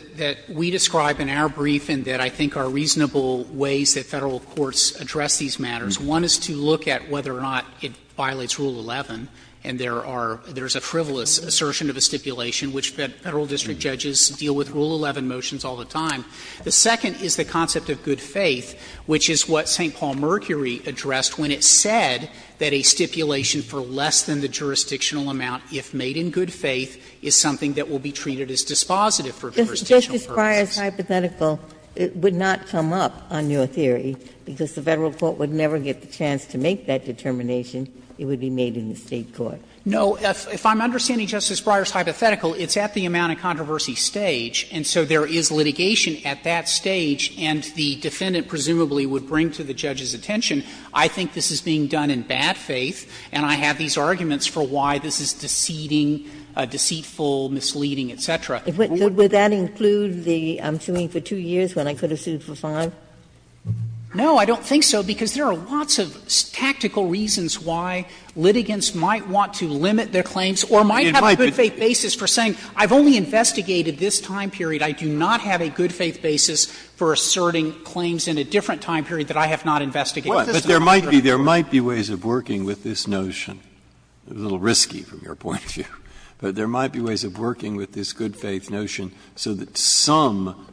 we describe in our brief and that I think are reasonable ways that Federal courts address these matters. One is to look at whether or not it violates Rule 11, and there are – there's a frivolous assertion of a stipulation, which Federal district judges deal with Rule 11 motions all the time. The second is the concept of good faith, which is what St. Paul Mercury addressed when it said that a stipulation for less than the jurisdictional amount, if made in good faith, is something that will be treated as dispositive for jurisdictional purposes. Ginsburg. Justice Breyer's hypothetical would not come up on your theory, because the Federal court would never get the chance to make that determination. It would be made in the State court. No. If I'm understanding Justice Breyer's hypothetical, it's at the amount of controversy stage, and so there is litigation at that stage, and the defendant presumably would bring to the judge's attention, I think this is being done in bad faith, and I have these arguments for why this is deceiving, deceitful, misleading, et cetera. Who would do that? Ginsburg. Would that include the I'm suing for 2 years when I could have sued for 5? No, I don't think so, because there are lots of tactical reasons why litigants might want to limit their claims or might have a good faith basis for saying, I've only investigated this time period, I do not have a good faith basis for asserting claims in a different time period that I have not investigated. Breyer. But there might be ways of working with this notion, a little risky from your point of view, but there might be ways of working with this good faith notion so that some,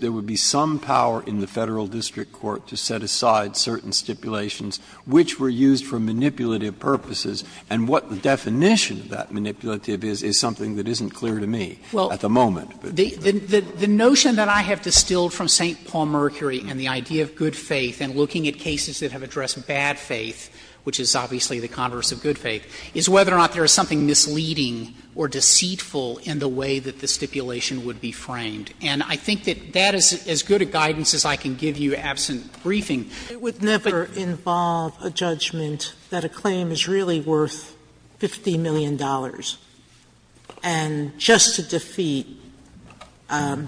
there would be some power in the Federal district court to set aside certain stipulations which were used for manipulative purposes, and what the definition of that manipulative is, is something that isn't clear to me at the moment. The notion that I have distilled from St. Paul Mercury and the idea of good faith and looking at cases that have addressed bad faith, which is obviously the converse of good faith, is whether or not there is something misleading or deceitful in the way that the stipulation would be framed. And I think that that is as good a guidance as I can give you absent briefing. Sotomayor, it would never involve a judgment that a claim is really worth $50 million, and just to defeat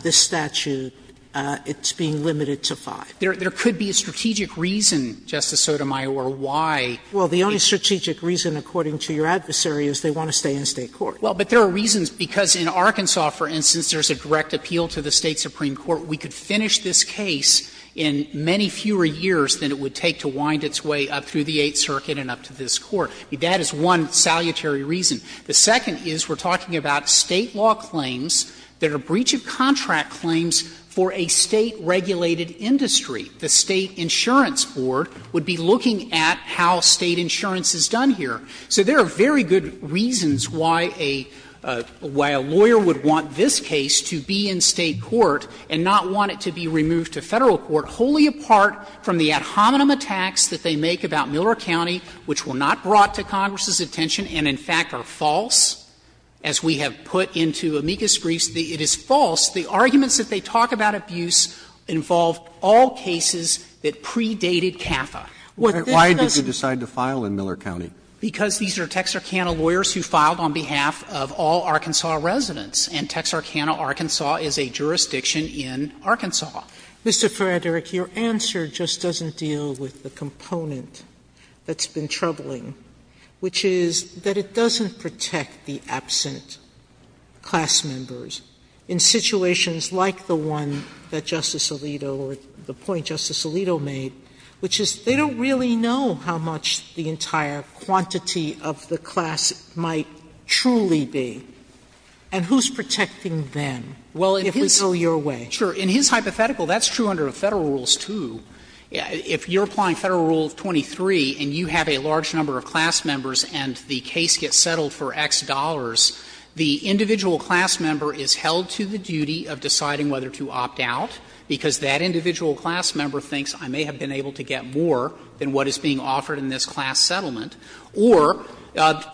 this statute, it's being limited to 5. There could be a strategic reason, Justice Sotomayor, why. Sotomayor, the only strategic reason, according to your adversary, is they want to stay in State court. Well, but there are reasons, because in Arkansas, for instance, there is a direct appeal to the State supreme court. We could finish this case in many fewer years than it would take to wind its way up through the Eighth Circuit and up to this Court. That is one salutary reason. The second is we are talking about State law claims that are breach of contract claims for a State-regulated industry. The State insurance board would be looking at how State insurance is done here. So there are very good reasons why a lawyer would want this case to be in State court and not want it to be removed to Federal court, wholly apart from the ad hominem attacks that they make about Miller County, which were not brought to Congress's attention and, in fact, are false, as we have put into amicus briefs. It is false. The arguments that they talk about abuse involve all cases that predated CAFA. What this does is. Roberts Because these are Texarkana lawyers who filed on behalf of all Arkansas residents, and Texarkana, Arkansas, is a jurisdiction in Arkansas. Sotomayor, your answer just doesn't deal with the component that's been troubling, which is that it doesn't protect the absent class members in situations like the one that Justice Alito or the point Justice Alito made, which is they don't really know how much the entire quantity of the class might truly be, and who's protecting them if we go your way? Frederick Sure. In his hypothetical, that's true under Federal rules, too. If you're applying Federal Rule 23 and you have a large number of class members and the case gets settled for X dollars, the individual class member is held to the duty of deciding whether to opt out, because that individual class member thinks I may have been able to get more than what is being offered in this class settlement, or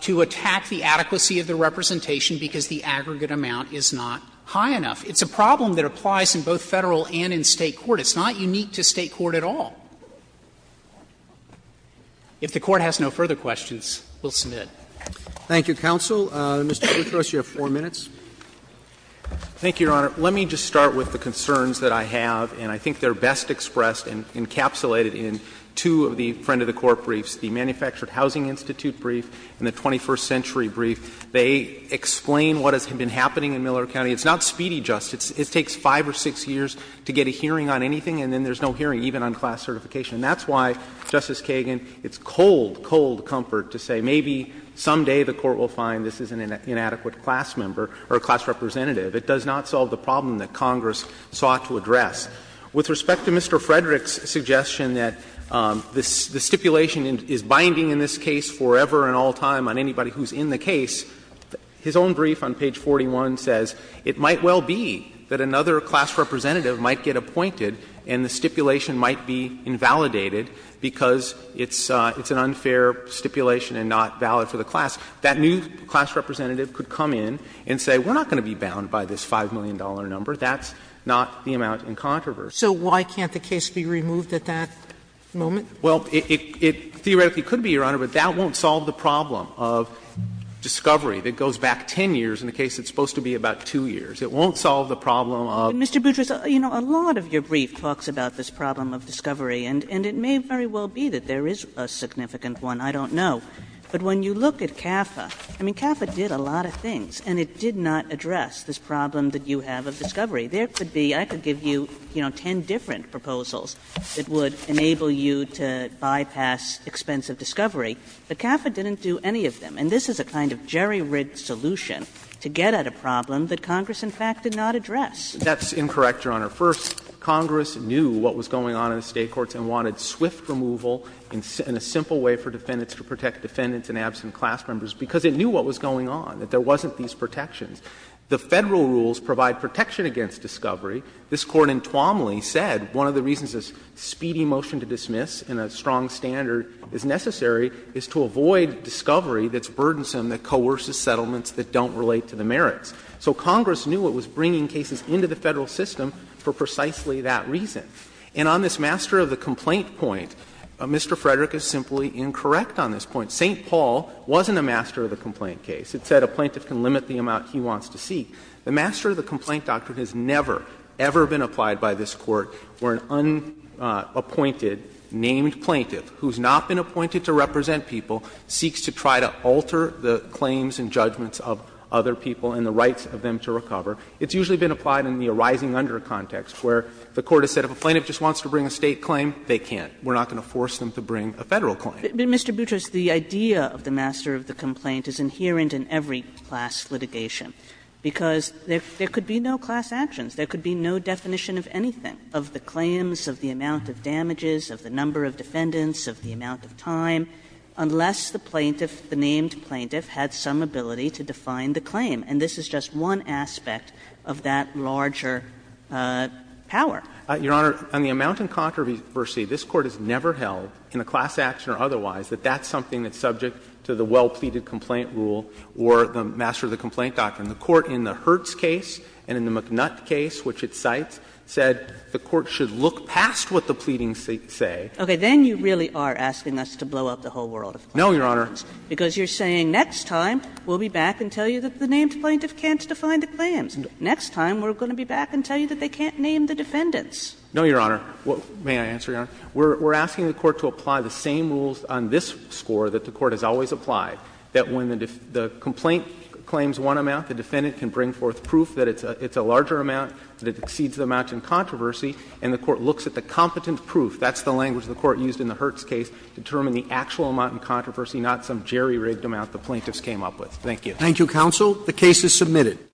to attack the adequacy of the representation because the aggregate amount is not high enough. It's a problem that applies in both Federal and in State court. It's not unique to State court at all. If the Court has no further questions, we'll submit. Roberts Thank you, counsel. Mr. Guthrie, you have four minutes. Mr. Guthrie Thank you, Your Honor. Let me just start with the concerns that I have, and I think they're best expressed and encapsulated in two of the Friend of the Court briefs, the Manufactured Housing Institute brief and the Twenty-First Century brief. They explain what has been happening in Millard County. It's not speedy justice. It takes five or six years to get a hearing on anything, and then there's no hearing even on class certification. And that's why, Justice Kagan, it's cold, cold comfort to say maybe someday the Court will find this is an inadequate class member or class representative. It does not solve the problem that Congress sought to address. With respect to Mr. Frederick's suggestion that the stipulation is binding in this case forever and all time on anybody who's in the case, his own brief on page 41 says it might well be that another class representative might get appointed and the stipulation might be invalidated because it's an unfair stipulation and not valid for the class. That new class representative could come in and say we're not going to be bound by this $5 million number. That's not the amount in controversy. Sotomayor So why can't the case be removed at that moment? Mr. Guthrie Well, it theoretically could be, Your Honor, but that won't solve the problem of discovery, and it may very well be that there is a significant one, I don't know. But when you look at CAFA, I mean, CAFA did a lot of things, and it did not address this problem that you have of discovery. There could be, I could give you, you know, 10 different proposals that would enable you to bypass expense of discovery, but CAFA didn't do any of them. And this is a kind of jerry-rigged solution to get at a problem that comes from the Congress, in fact, did not address. Mr. Guthrie That's incorrect, Your Honor. First, Congress knew what was going on in the State courts and wanted swift removal in a simple way for defendants to protect defendants and absent class members because it knew what was going on, that there wasn't these protections. The Federal rules provide protection against discovery. This Court in Twomley said one of the reasons this speedy motion to dismiss in a strong standard is necessary is to avoid discovery that's burdensome, that coerces settlements that don't relate to the merits. So Congress knew it was bringing cases into the Federal system for precisely that reason. And on this master of the complaint point, Mr. Frederick is simply incorrect on this point. St. Paul wasn't a master of the complaint case. It said a plaintiff can limit the amount he wants to seek. The master of the complaint doctrine has never, ever been applied by this Court where an unappointed, named plaintiff who's not been appointed to represent people seeks to try to alter the claims and judgments of other people and the rights of them to recover. It's usually been applied in the arising under context where the Court has said if a plaintiff just wants to bring a State claim, they can't. We're not going to force them to bring a Federal claim. Kagan, Mr. Boutrous, the idea of the master of the complaint is inherent in every class litigation, because there could be no class actions, there could be no definition of anything, of the claims, of the amount of damages, of the number of defendants, of the amount of time, unless the plaintiff, the named plaintiff, had some ability to define the claim. And this is just one aspect of that larger power. Your Honor, on the amount in controversy, this Court has never held in a class action or otherwise that that's something that's subject to the well-pleaded complaint rule or the master of the complaint doctrine. The Court in the Hertz case and in the McNutt case, which it cites, said the Court should look past what the pleadings say. Okay. Then you really are asking us to blow up the whole world of claims. No, Your Honor. Because you're saying next time we'll be back and tell you that the named plaintiff can't define the claims. Next time we're going to be back and tell you that they can't name the defendants. No, Your Honor. May I answer, Your Honor? We're asking the Court to apply the same rules on this score that the Court has always applied, that when the complaint claims one amount, the defendant can bring forth proof that it's a larger amount, that it exceeds the amount in controversy, and the Court looks at the competent proof. That's the language the Court used in the Hertz case to determine the actual amount in controversy, not some jerry-rigged amount the plaintiffs came up with. Thank you. Roberts. Thank you, counsel. The case is submitted.